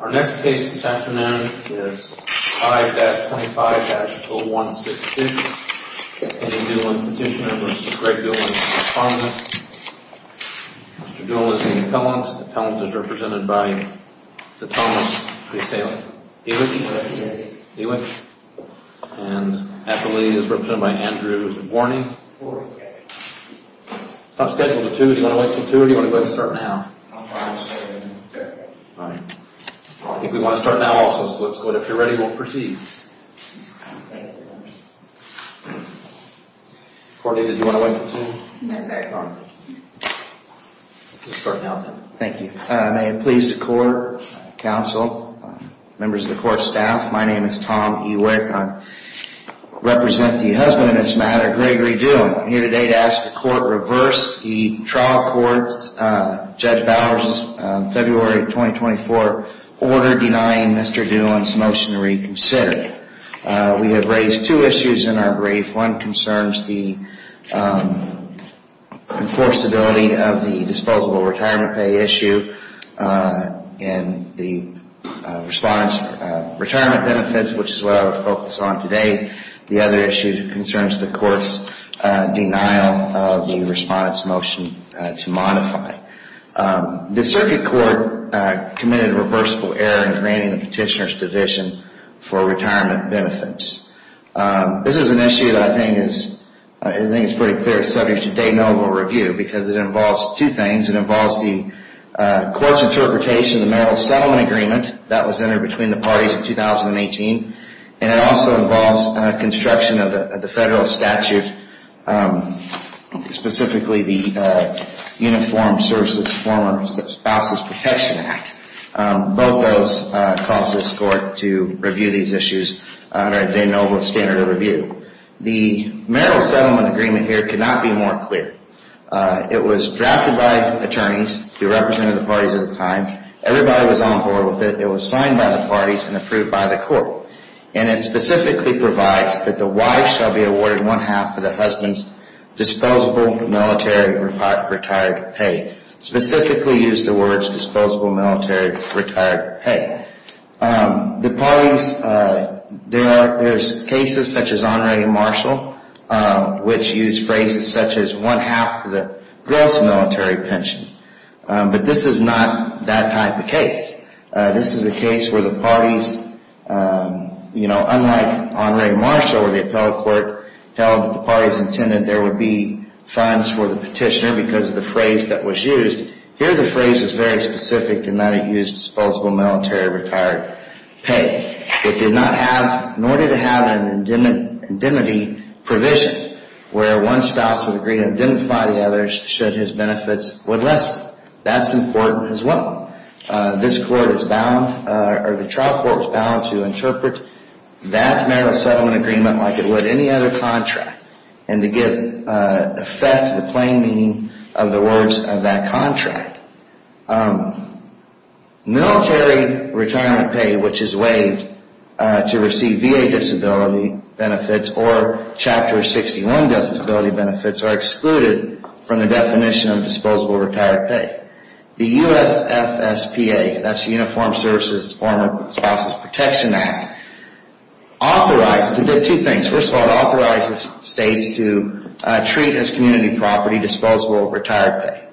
Our next case this afternoon is 5-25-166, Kenny Doolin Petitioner v. Greg Doolin Respondent. Mr. Doolin is in Atellans. Atellans is represented by Mr. Thomas Diewitsch. Mr. Diewitsch is represented by Mr. Andrew Warney. Mr. Diewitsch is represented by Mr. Andrew Warney. Members of the court staff, my name is Tom Diewitsch. I represent the husband in this matter, Gregory Doolin. I'm here today to ask the court to reverse the trial court's, Judge Bowers' February 2024 order denying Mr. Doolin's motion to reconsider. We have raised two issues in our brief. One concerns the enforceability of the disposable retirement pay issue. And the respondent's retirement benefits, which is what I will focus on today. The other issue concerns the court's denial of the respondent's motion to modify. The circuit court committed a reversible error in granting the petitioner's division for retirement benefits. This is an issue that I think is pretty clear and subject to day-to-day review because it involves two things. It involves the court's interpretation of the marital settlement agreement that was entered between the parties in 2018. And it also involves construction of the federal statute, specifically the Uniformed Services Former Spouses Protection Act. Both those cause this court to review these issues under a de novo standard of review. The marital settlement agreement here cannot be more clear. It was drafted by attorneys who represented the parties at the time. Everybody was on board with it. It was signed by the parties and approved by the court. And it specifically provides that the wife shall be awarded one-half of the husband's disposable military retired pay. Specifically used the words disposable military retired pay. The parties, there are cases such as Honore and Marshall, which use phrases such as one-half the gross military pension. But this is not that type of case. This is a case where the parties, you know, unlike Honore and Marshall where the appellate court held that the parties intended there would be funds for the petitioner because of the phrase that was used, here the phrase is very specific in that it used disposable military retired pay. It did not have, nor did it have an indemnity provision where one spouse would agree to indemnify the other should his benefits would lessen. That's important as well. This court is bound, or the trial court is bound to interpret that marital settlement agreement like it would any other contract. And to give effect to the plain meaning of the words of that contract. Military retirement pay which is waived to receive VA disability benefits or Chapter 61 disability benefits are excluded from the definition of disposable retired pay. The USFSPA, that's the Uniformed Services Spouses Protection Act, authorized, it did two things. First of all, it authorizes states to treat as community property disposable retired pay.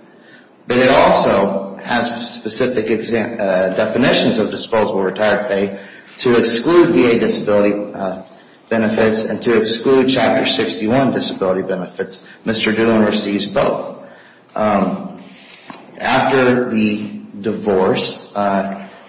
But it also has specific definitions of disposable retired pay to exclude VA disability benefits and to exclude Chapter 61 disability benefits. Mr. Doolin receives both. After the divorce,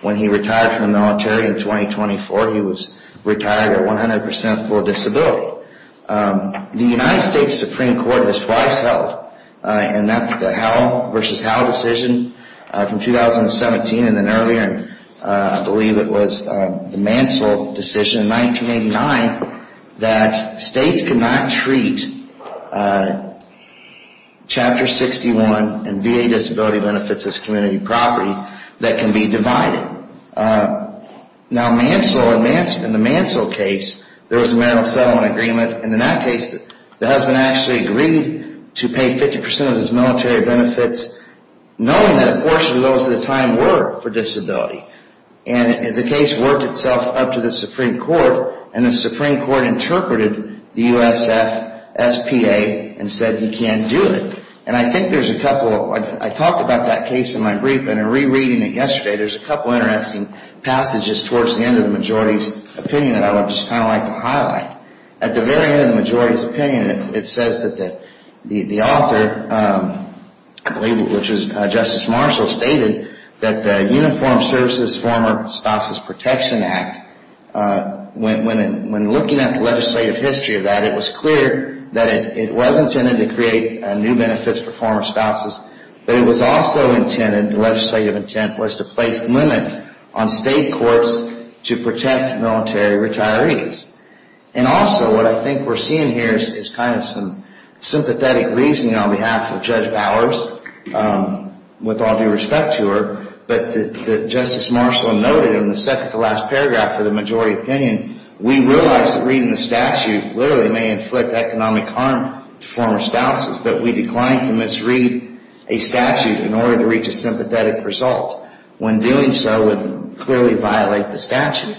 when he retired from the military in 2024, he was retired at 100% for disability. The United States Supreme Court has twice held, and that's the Howell versus Howell decision from 2017 and then earlier, I believe it was the Mansell decision in 1989 that states could not treat Chapter 61 and VA disability benefits as community property that can be divided. Now, Mansell, in the Mansell case, there was a marital settlement agreement, and in that case the husband actually agreed to pay 50% of his military benefits knowing that a portion of those at the time were for disability. And the case worked itself up to the Supreme Court, and the Supreme Court interpreted the USFSPA and said he can't do it. And I think there's a couple, I talked about that case in my brief, and in rereading it yesterday, there's a couple interesting passages towards the end of the majority's opinion that I would just kind of like to highlight. At the very end of the majority's opinion, it says that the author, I believe it was Justice Marshall, stated that the Uniformed Services Former Spouses Protection Act, when looking at the legislative history of that, it was clear that it was intended to create new benefits for former spouses, but it was also intended, the legislative intent was to place limits on state courts to protect military retirees. And also what I think we're seeing here is kind of some sympathetic reasoning on behalf of Judge Bowers, with all due respect to her, but that Justice Marshall noted in the second to last paragraph of the majority opinion, we realize that reading the statute literally may inflict economic harm to former spouses, but we decline to misread a statute in order to reach a sympathetic result. When doing so, it would clearly violate the statute.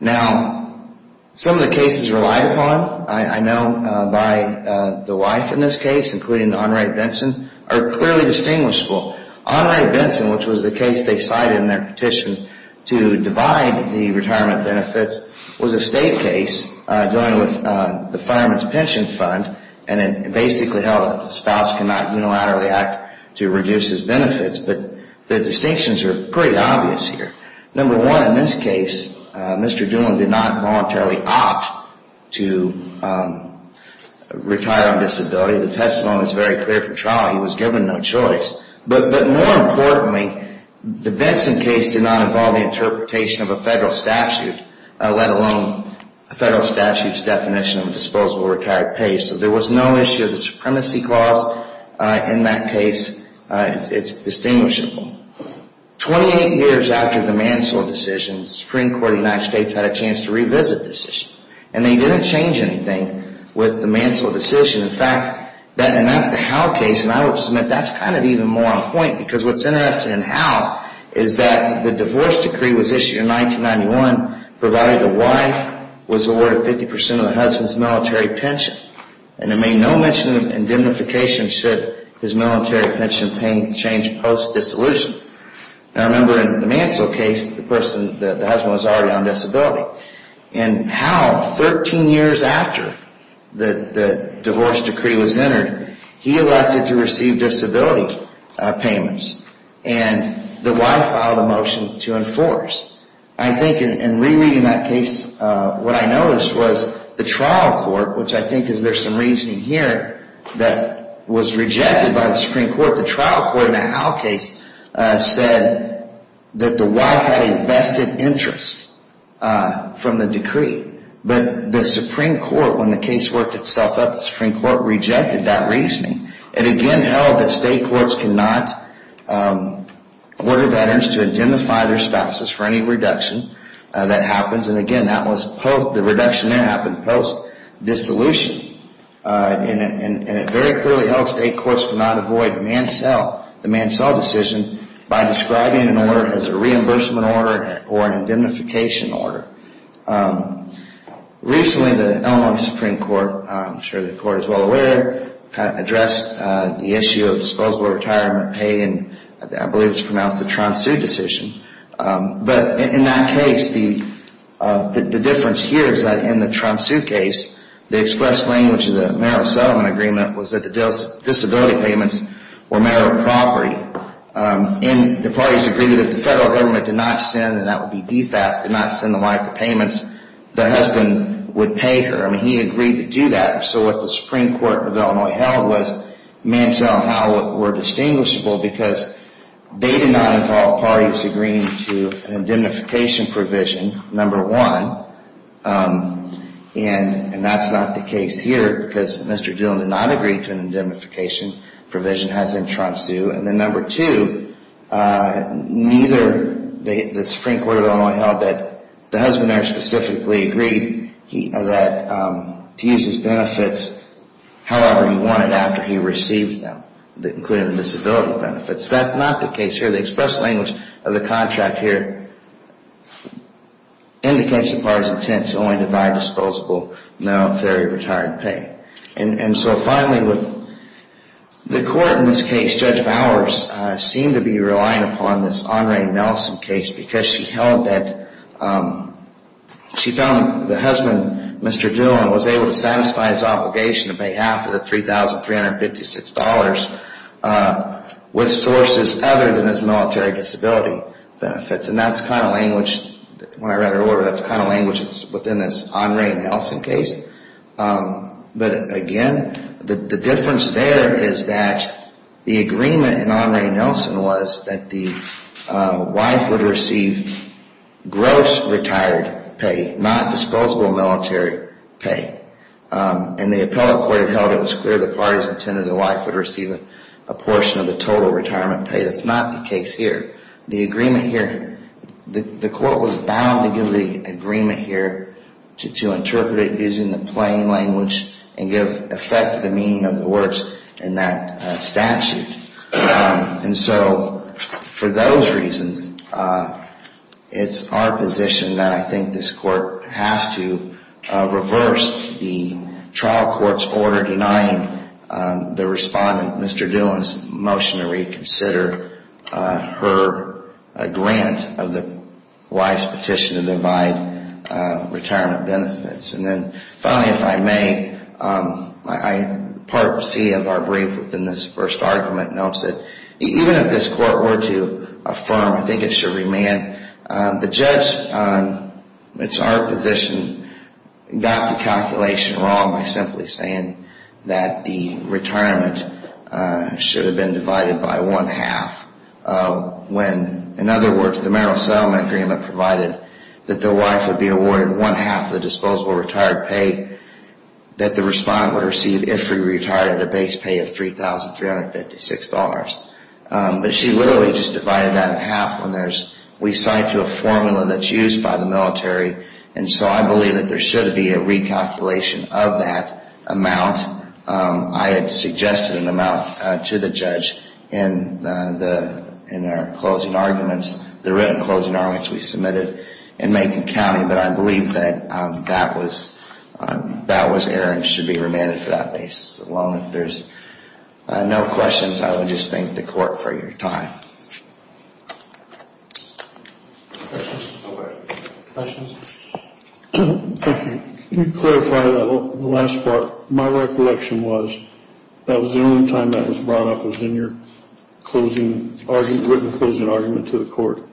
Now, some of the cases relied upon, I know, by the wife in this case, including the Enright Benson, are clearly distinguishable. Enright Benson, which was the case they cited in their petition to divide the retirement benefits, was a state case dealing with the Fireman's Pension Fund, and it basically held that the spouse cannot unilaterally act to reduce his benefits. But the distinctions are pretty obvious here. Number one, in this case, Mr. Doolin did not voluntarily opt to retire on disability. The testimony is very clear from trial. He was given no choice. But more importantly, the Benson case did not involve the interpretation of a federal statute, let alone a federal statute's definition of a disposable retired pay. So there was no issue of the supremacy clause in that case. It's distinguishable. Twenty-eight years after the Mansell decision, the Supreme Court of the United States had a chance to revisit this issue, and they didn't change anything with the Mansell decision. In fact, and that's the Howe case, and I would submit that's kind of even more on point, because what's interesting in Howe is that the divorce decree was issued in 1991, provided the wife was awarded 50 percent of the husband's military pension, and it made no mention of indemnification should his military pension change post-dissolution. Now, remember, in the Mansell case, the husband was already on disability. In Howe, 13 years after the divorce decree was entered, he elected to receive disability payments, and the wife filed a motion to enforce. I think in rereading that case, what I noticed was the trial court, which I think is there's some reasoning here, that was rejected by the Supreme Court. The trial court in the Howe case said that the wife had a vested interest from the decree, but the Supreme Court, when the case worked itself up, the Supreme Court rejected that reasoning. It again held that state courts cannot order that interest to indemnify their spouses for any reduction that happens, and again, that was the reduction that happened post-dissolution. And it very clearly held state courts could not avoid the Mansell decision by describing an order as a reimbursement order or an indemnification order. Recently, the Illinois Supreme Court, I'm sure the Court is well aware, addressed the issue of disposable retirement pay, and I believe it's pronounced the Tron Sioux decision. But in that case, the difference here is that in the Tron Sioux case, the express language of the marital settlement agreement was that the disability payments were marital property, and the parties agreed that if the federal government did not send, and that would be DFAS, did not send the wife the payments, the husband would pay her. I mean, he agreed to do that. So what the Supreme Court of Illinois held was Mansell and Howe were distinguishable because they did not involve parties agreeing to an indemnification provision, number one, and that's not the case here because Mr. Dillon did not agree to an indemnification provision as in Tron Sioux, and then number two, neither the Supreme Court of Illinois held that the husband there specifically agreed to use his benefits however he wanted after he received them, including the disability benefits. That's not the case here. The express language of the contract here indicates the parties' intent to only divide disposable military retirement pay. And so finally, the Court in this case, Judge Bowers, seemed to be relying upon this because she held that she found the husband, Mr. Dillon, was able to satisfy his obligation on behalf of the $3,356 with sources other than his military disability benefits, and that's the kind of language, when I read her order, that's the kind of language that's within this Andre Nelson case, but again, the difference there is that the agreement in Andre Nelson was that the wife would receive gross retired pay, not disposable military pay, and the appellate court held it was clear the parties intended the wife would receive a portion of the total retirement pay. That's not the case here. The agreement here, the Court was bound to give the agreement here to interpret it using the plain language and give effect to the meaning of the words in that statute. And so for those reasons, it's our position that I think this Court has to reverse the trial court's order denying the respondent, Mr. Dillon's, motion to reconsider her grant of the wife's petition to divide retirement benefits. And then finally, if I may, Part C of our brief within this first argument notes that even if this Court were to affirm, I think it should remand, the judge, it's our position, got the calculation wrong by simply saying that the retirement should have been divided by one half. When, in other words, the marital settlement agreement provided that the wife would be awarded one half of the disposable retired pay that the respondent would receive if she retired at a base pay of $3,356. But she literally just divided that in half when there's, we cite to a formula that's used by the military, and so I believe that there should be a recalculation of that amount. I had suggested an amount to the judge in our closing arguments, the written closing arguments we submitted in Macon County, but I believe that that was error and should be remanded for that basis alone. If there's no questions, I would just thank the Court for your time. Questions? Thank you. Can you clarify the last part? My recollection was that was the only time that was brought up was in your closing argument, written closing argument to the Court,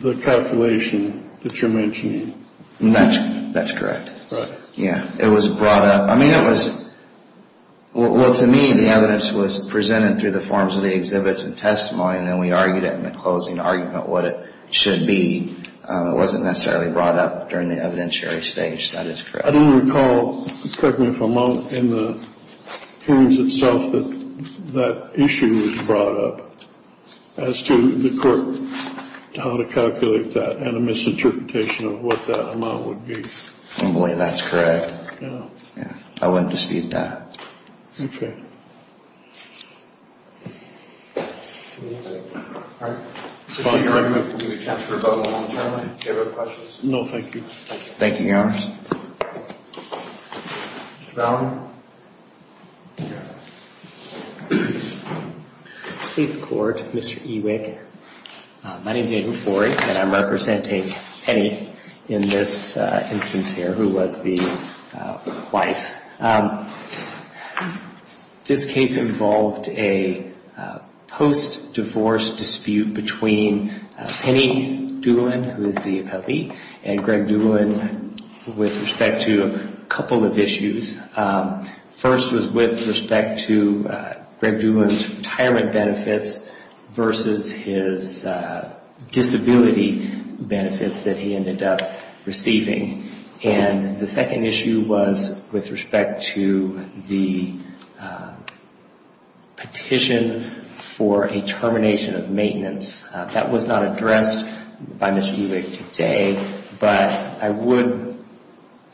the calculation that you're mentioning. That's correct. Right. Yeah, it was brought up. I mean, it was, well, to me, the evidence was presented through the forms of the exhibits and testimony, and then we argued it in the closing argument what it should be. It wasn't necessarily brought up during the evidentiary stage. That is correct. I don't recall, correct me if I'm wrong, in the hearings itself that that issue was brought up as to the Court, how to calculate that and a misinterpretation of what that amount would be. I believe that's correct. Yeah. I wouldn't dispute that. All right. I'm going to give you a chance to rebuttal momentarily. Do you have any questions? No, thank you. Thank you, Your Honor. Mr. Ballard? Please record, Mr. Ewig. My name is Andrew Ford, and I'm representing Penny in this instance here, who was the wife. This case involved a post-divorce dispute between Penny Doolin, who is the appellee, and Greg Doolin with respect to a couple of issues. First was with respect to Greg Doolin's retirement benefits versus his disability benefits that he ended up receiving. And the second issue was with respect to the petition for a termination of maintenance. That was not addressed by Mr. Ewig today, but I would,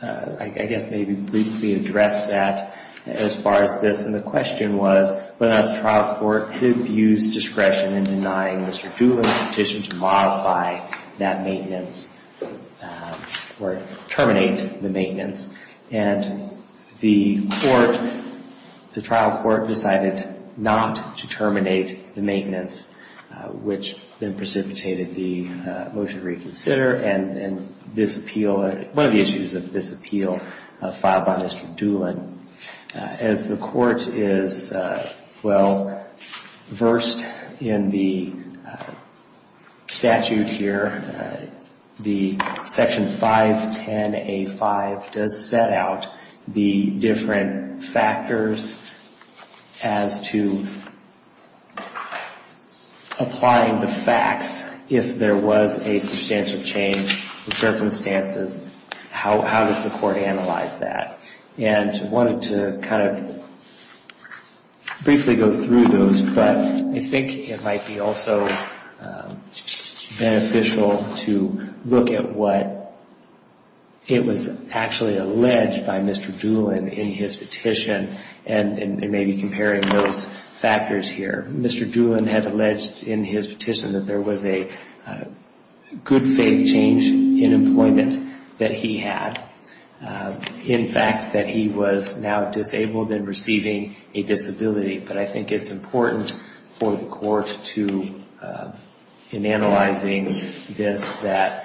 I guess, maybe briefly address that as far as this. And the question was whether or not the trial court could have used discretion in denying Mr. Doolin's petition to modify that maintenance or terminate the maintenance. And the court, the trial court decided not to terminate the maintenance, which then precipitated the motion to reconsider. And this appeal, one of the issues of this appeal filed by Mr. Doolin, as the court is, well, versed in the statute here, the section 510A5 does set out the different factors as to applying the facts. If there was a substantial change in circumstances, how does the court analyze that? And wanted to kind of briefly go through those, but I think it might be also beneficial to look at what it was actually alleged by Mr. Doolin in his petition and maybe comparing those factors here. Mr. Doolin had alleged in his petition that there was a good faith change in employment that he had. In fact, that he was now disabled and receiving a disability. But I think it's important for the court to, in analyzing this, that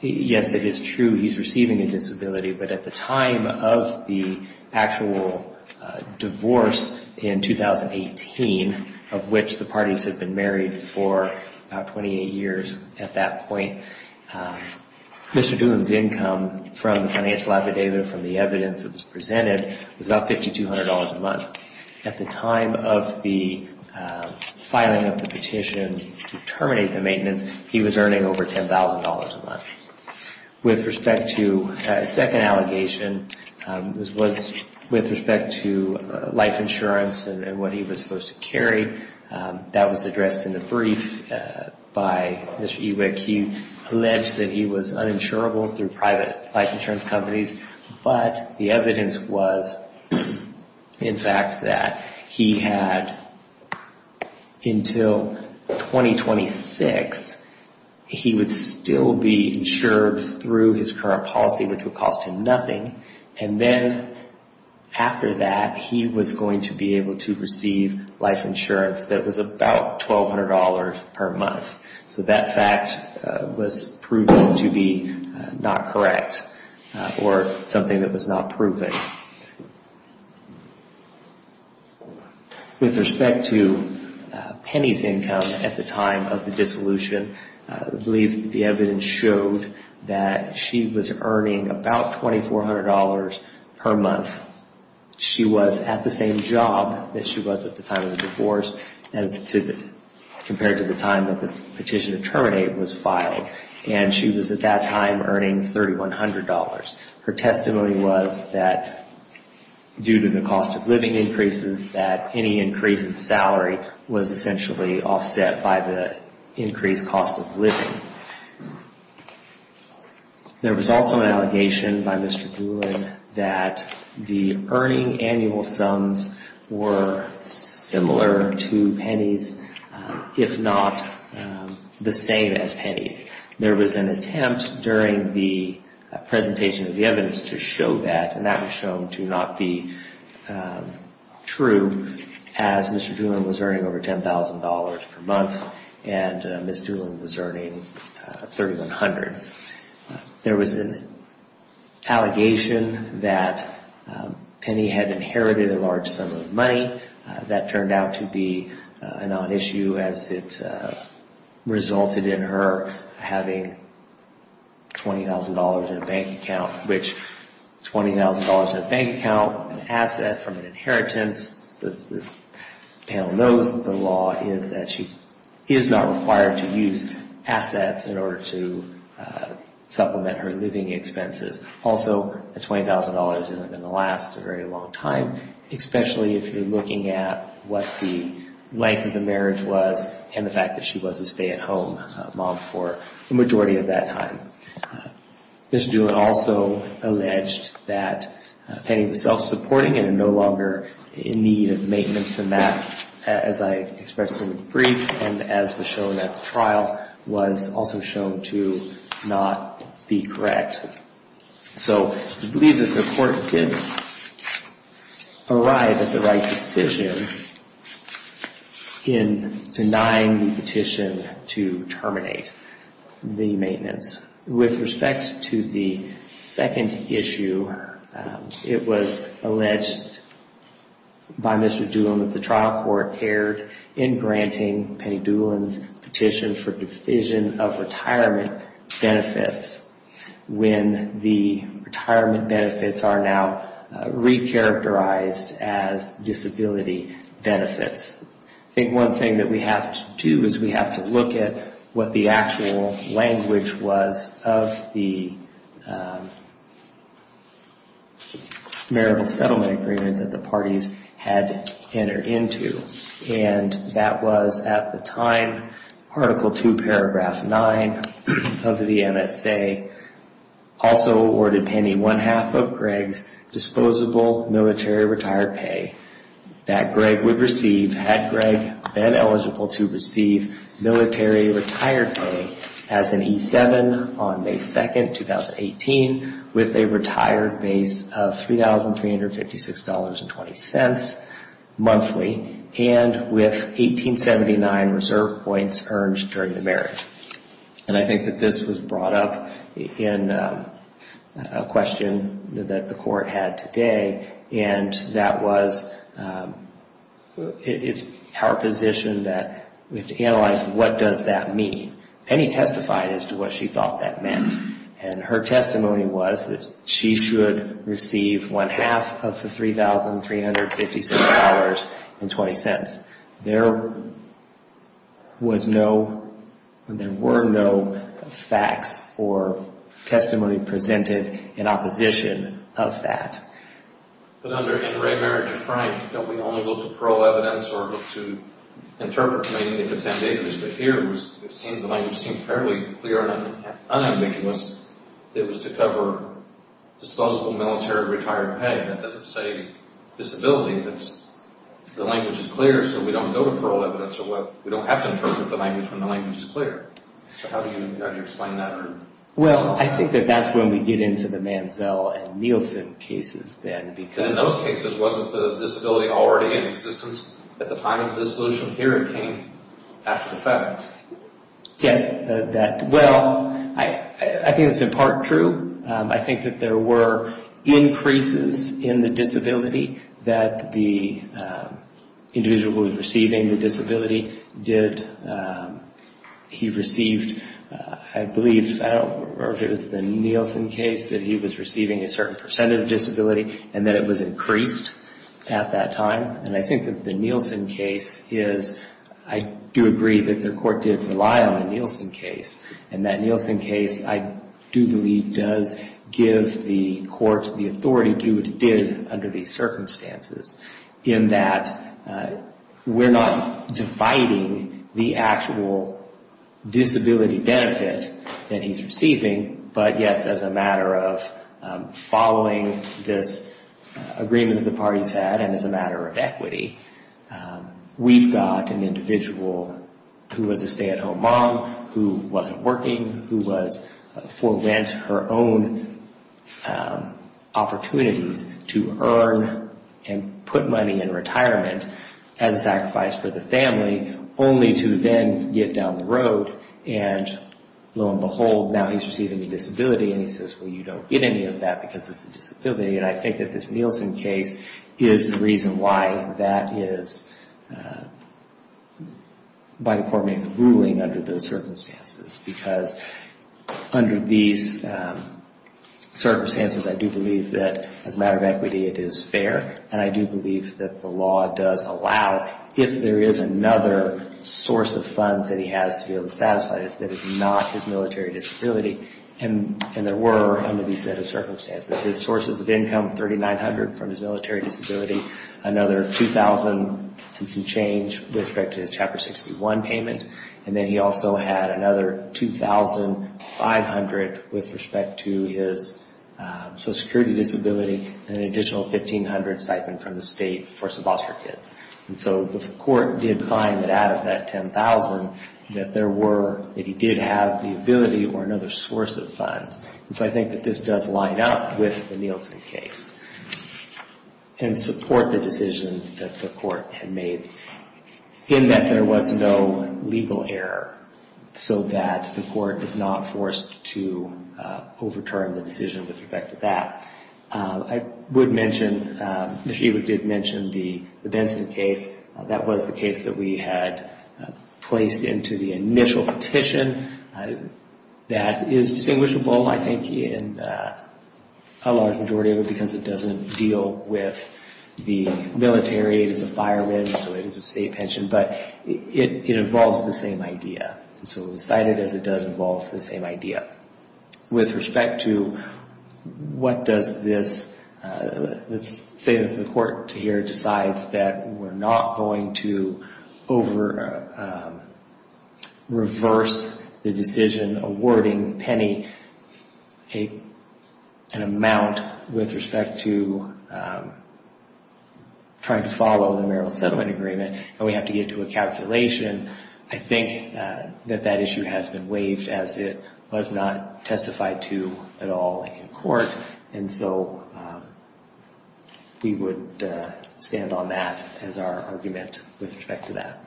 yes, it is true, he's receiving a disability. But at the time of the actual divorce in 2018, of which the parties had been married for about 28 years at that point, Mr. Doolin's income from the financial affidavit, from the evidence that was presented, was about $5,200 a month. At the time of the filing of the petition to terminate the maintenance, he was earning over $10,000 a month. With respect to a second allegation, this was with respect to life insurance and what he was supposed to carry. That was addressed in the brief by Mr. Ewick. He alleged that he was uninsurable through private life insurance companies. But the evidence was, in fact, that he had until 2026, he would still be insured through his current policy, which would cost him nothing. And then after that, he was going to be able to receive life insurance that was about $1,200 per month. So that fact was proven to be not correct or something that was not proven. With respect to Penny's income at the time of the dissolution, I believe the evidence showed that she was earning about $2,400 per month. She was at the same job that she was at the time of the divorce compared to the time that the petition to terminate was filed. And she was at that time earning $3,100. Her testimony was that due to the cost of living increases, that any increase in salary was essentially offset by the increased cost of living. There was also an allegation by Mr. Doolin that the earning annual sums were similar to Penny's, if not the same as Penny's. There was an attempt during the presentation of the evidence to show that. And that was shown to not be true as Mr. Doolin was earning over $10,000 per month and Ms. Doolin was earning $3,100. There was an allegation that Penny had inherited a large sum of money. That turned out to be a non-issue as it resulted in her having $20,000 in a bank account, which $20,000 in a bank account, an asset from an inheritance, as this panel knows the law, is that she is not required to use assets in order to supplement her living expenses. Also, a $20,000 isn't going to last a very long time, especially if you're looking at what the length of the marriage was and the fact that she was a stay-at-home mom for the majority of that time. Mr. Doolin also alleged that Penny was self-supporting and no longer in need of maintenance. And that, as I expressed in the brief and as was shown at the trial, was also shown to not be correct. So we believe that the court did arrive at the right decision in denying the petition to terminate the maintenance. With respect to the second issue, it was alleged by Mr. Doolin that the trial court erred in granting Penny Doolin's petition for division of retirement benefits when the retirement benefits are now re-characterized as disability benefits. I think one thing that we have to do is we have to look at what the actual language was of the marital settlement agreement that the parties had entered into. And that was, at the time, Article 2, Paragraph 9 of the MSA, also awarded Penny one-half of Greg's disposable military retired pay that Greg would receive had Greg been eligible to receive military retired pay as an E-7 on May 2, 2018, with a retired base of $3,356.20 monthly and with 1879 reserve points earned during the marriage. And I think that this was brought up in a question that the court had today. And that was, it's our position that we have to analyze what does that mean? Penny testified as to what she thought that meant. And her testimony was that she should receive one-half of the $3,356.20. There was no, there were no facts or testimony presented in opposition of that. But under inter-marriage, Frank, don't we only look to parole evidence or look to interpret? I mean, if it's ambiguous. But here, it seems the language seems fairly clear and unambiguous. It was to cover disposable military retired pay. That doesn't say disability. The language is clear, so we don't go to parole evidence. We don't have to interpret the language when the language is clear. So how do you explain that? Well, I think that that's when we get into the Manziel and Nielsen cases then. In those cases, wasn't the disability already in existence at the time of dissolution? Here, it came after the fact. Yes, that, well, I think it's in part true. I think that there were increases in the disability that the individual was receiving. The disability did, he received, I believe, I don't remember if it was the Nielsen case, that he was receiving a certain percentage of disability and that it was increased at that time. And I think that the Nielsen case is, I do agree that their court did rely on the Nielsen case. And that Nielsen case, I do believe, does give the court the authority to do what it did under these circumstances in that we're not dividing the actual disability benefit that he's receiving, but, yes, as a matter of following this agreement that the parties had and as a matter of equity, we've got an individual who was a stay-at-home mom, who wasn't working, who was, for rent, her own opportunities to earn and put money in retirement as a sacrifice for the family, only to then get down the road and, lo and behold, now he's receiving a disability. And he says, well, you don't get any of that because it's a disability. And I think that this Nielsen case is the reason why that is, by the court, maybe the ruling under those circumstances. Because under these circumstances, I do believe that, as a matter of equity, it is fair. And I do believe that the law does allow, if there is another source of funds that he has to be able to satisfy this, that is not his military disability. And there were, under these set of circumstances, his sources of income, $3,900 from his military disability, another $2,000 and some change with respect to his Chapter 61 payment. And then he also had another $2,500 with respect to his Social Security disability and an additional $1,500 stipend from the state for some foster kids. And so the court did find that out of that $10,000 that there were, that he did have the ability or another source of funds. And so I think that this does line up with the Nielsen case and support the decision that the court had made, in that there was no legal error so that the court is not forced to overturn the decision with respect to that. I would mention, she did mention the Benson case. That was the case that we had placed into the initial petition. That is distinguishable, I think, in a large majority of it because it doesn't deal with the military. It is a fireman, so it is a state pension. But it involves the same idea. So it was cited as it does involve the same idea. With respect to what does this... Let's say that the court here decides that we're not going to reverse the decision awarding Penny an amount with respect to trying to follow the marital settlement agreement and we have to get to a calculation. I think that that issue has been waived as it was not testified to at all in court. And so we would stand on that as our argument with respect to that.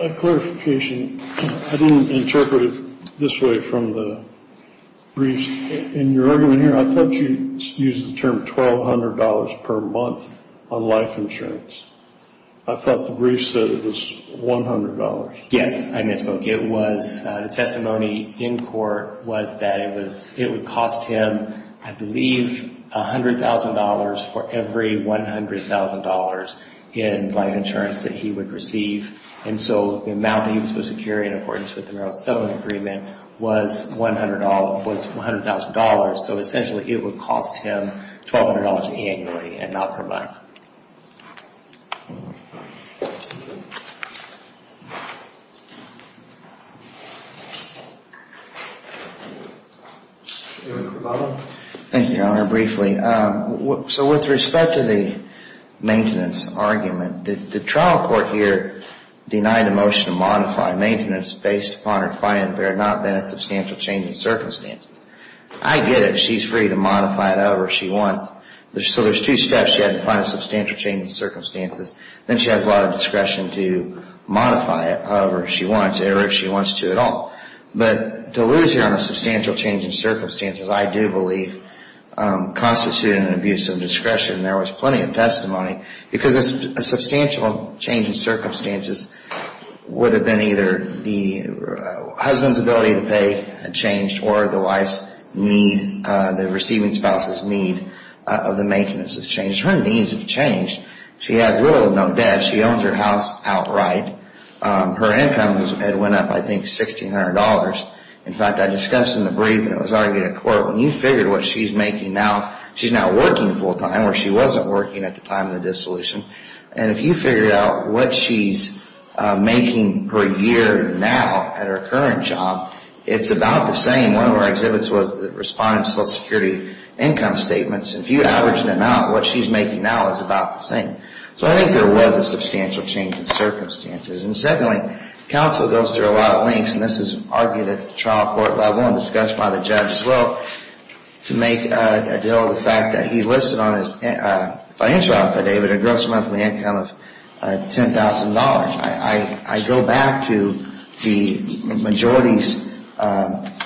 A clarification. I didn't interpret it this way from the briefs. In your argument here, I thought you used the term $1,200 per month on life insurance. I thought the brief said it was $100. Yes, I misspoke. The testimony in court was that it would cost him, I believe, $100,000 for every $100,000 in life insurance that he would receive. And so the amount that he was supposed to carry in accordance with the marital settlement agreement was $100,000. So essentially it would cost him $1,200 annually and not per month. Thank you. I'll answer briefly. So with respect to the maintenance argument, the trial court here denied a motion to modify maintenance based upon her finding there had not been a substantial change in circumstances. I get it. She's free to modify it however she wants. So there's two steps. She had to find a substantial change in circumstances. Then she has a lot of discretion to modify it however she wants or if she wants to at all. But to lose here on a substantial change in circumstances, I do believe, constituted an abuse of discretion. There was plenty of testimony because a substantial change in circumstances would have been either the husband's ability to pay had changed or the receiving spouse's need of the maintenance has changed. Her needs have changed. She has little to no debt. She owns her house outright. Her income had went up, I think, $1,600. In fact, I discussed in the brief and it was argued in court, when you figure what she's making now, she's now working full-time where she wasn't working at the time of the dissolution. And if you figure out what she's making per year now at her current job, it's about the same. One of our exhibits was the respondent's Social Security income statements. If you average them out, what she's making now is about the same. So I think there was a substantial change in circumstances. And secondly, counsel goes through a lot of links, and this is argued at the trial court level and discussed by the judge as well, to make a deal of the fact that he listed on his financial affidavit a gross monthly income of $10,000. I go back to the majority's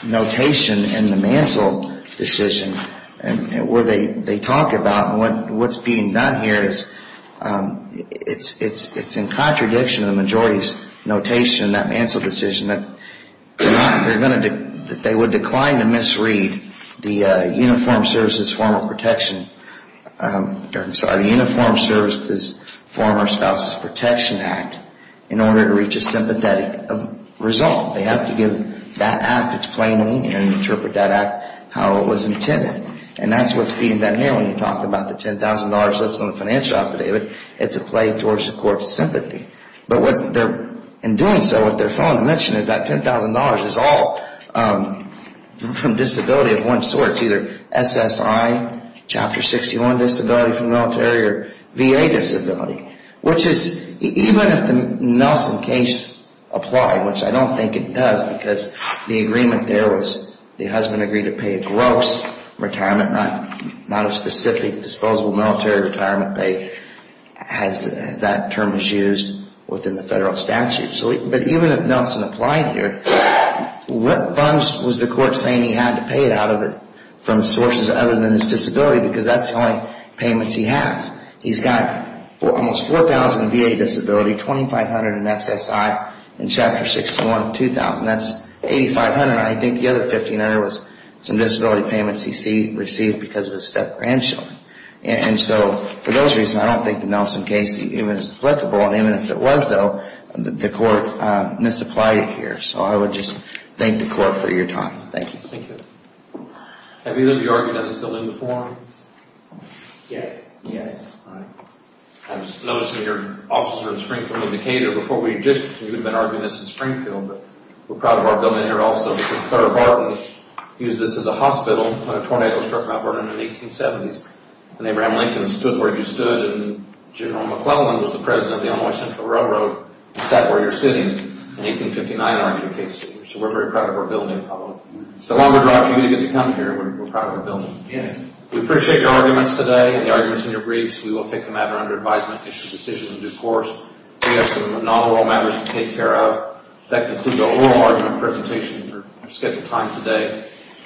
notation in the Mansell decision where they talk about what's being done here is it's in contradiction of the majority's notation in that Mansell decision that they would decline to misread the Uniformed Services Former Spouses Protection Act in order to reach a sympathetic result. They have to give that act its plain meaning and interpret that act how it was intended. And that's what's being done here when you talk about the $10,000 listed on the financial affidavit. It's a play towards the court's sympathy. But in doing so, what they're failing to mention is that $10,000 is all from disability of one sort. It's either SSI, Chapter 61 disability from the military, or VA disability. Which is, even if the Nelson case applied, which I don't think it does, because the agreement there was the husband agreed to pay a gross retirement, not a specific disposable military retirement pay as that term is used within the federal statute. But even if Nelson applied here, what funds was the court saying he had to pay out of it from sources other than his disability? Because that's the only payments he has. He's got almost $4,000 in VA disability, $2,500 in SSI, and Chapter 61, $2,000. That's $8,500. I think the other $1,500 was some disability payments he received because of his step-grandchildren. And so, for those reasons, I don't think the Nelson case even is applicable. And even if it was, though, the court misapplied it here. So I would just thank the court for your time. Thank you. Thank you. Have either of you argued in this building before? Yes. All right. I was noticing your office was in Springfield and Decatur. Before, we had been arguing this in Springfield, but we're proud of our building here also because Clare Barton used this as a hospital when a tornado struck Mount Vernon in the 1870s. And Abraham Lincoln stood where you stood. And General McClellan was the president of the Illinois Central Railroad. He sat where you're sitting. In 1859 argued a case here. So we're very proud of our building. It's the longer drive for you to get to come here. We're proud of our building. Yes. We appreciate your arguments today and the arguments in your briefs. We will take the matter under advisement, issue decisions in due course. We have some non-oral matters to take care of. That concludes our oral argument presentation. We're scheduled time today.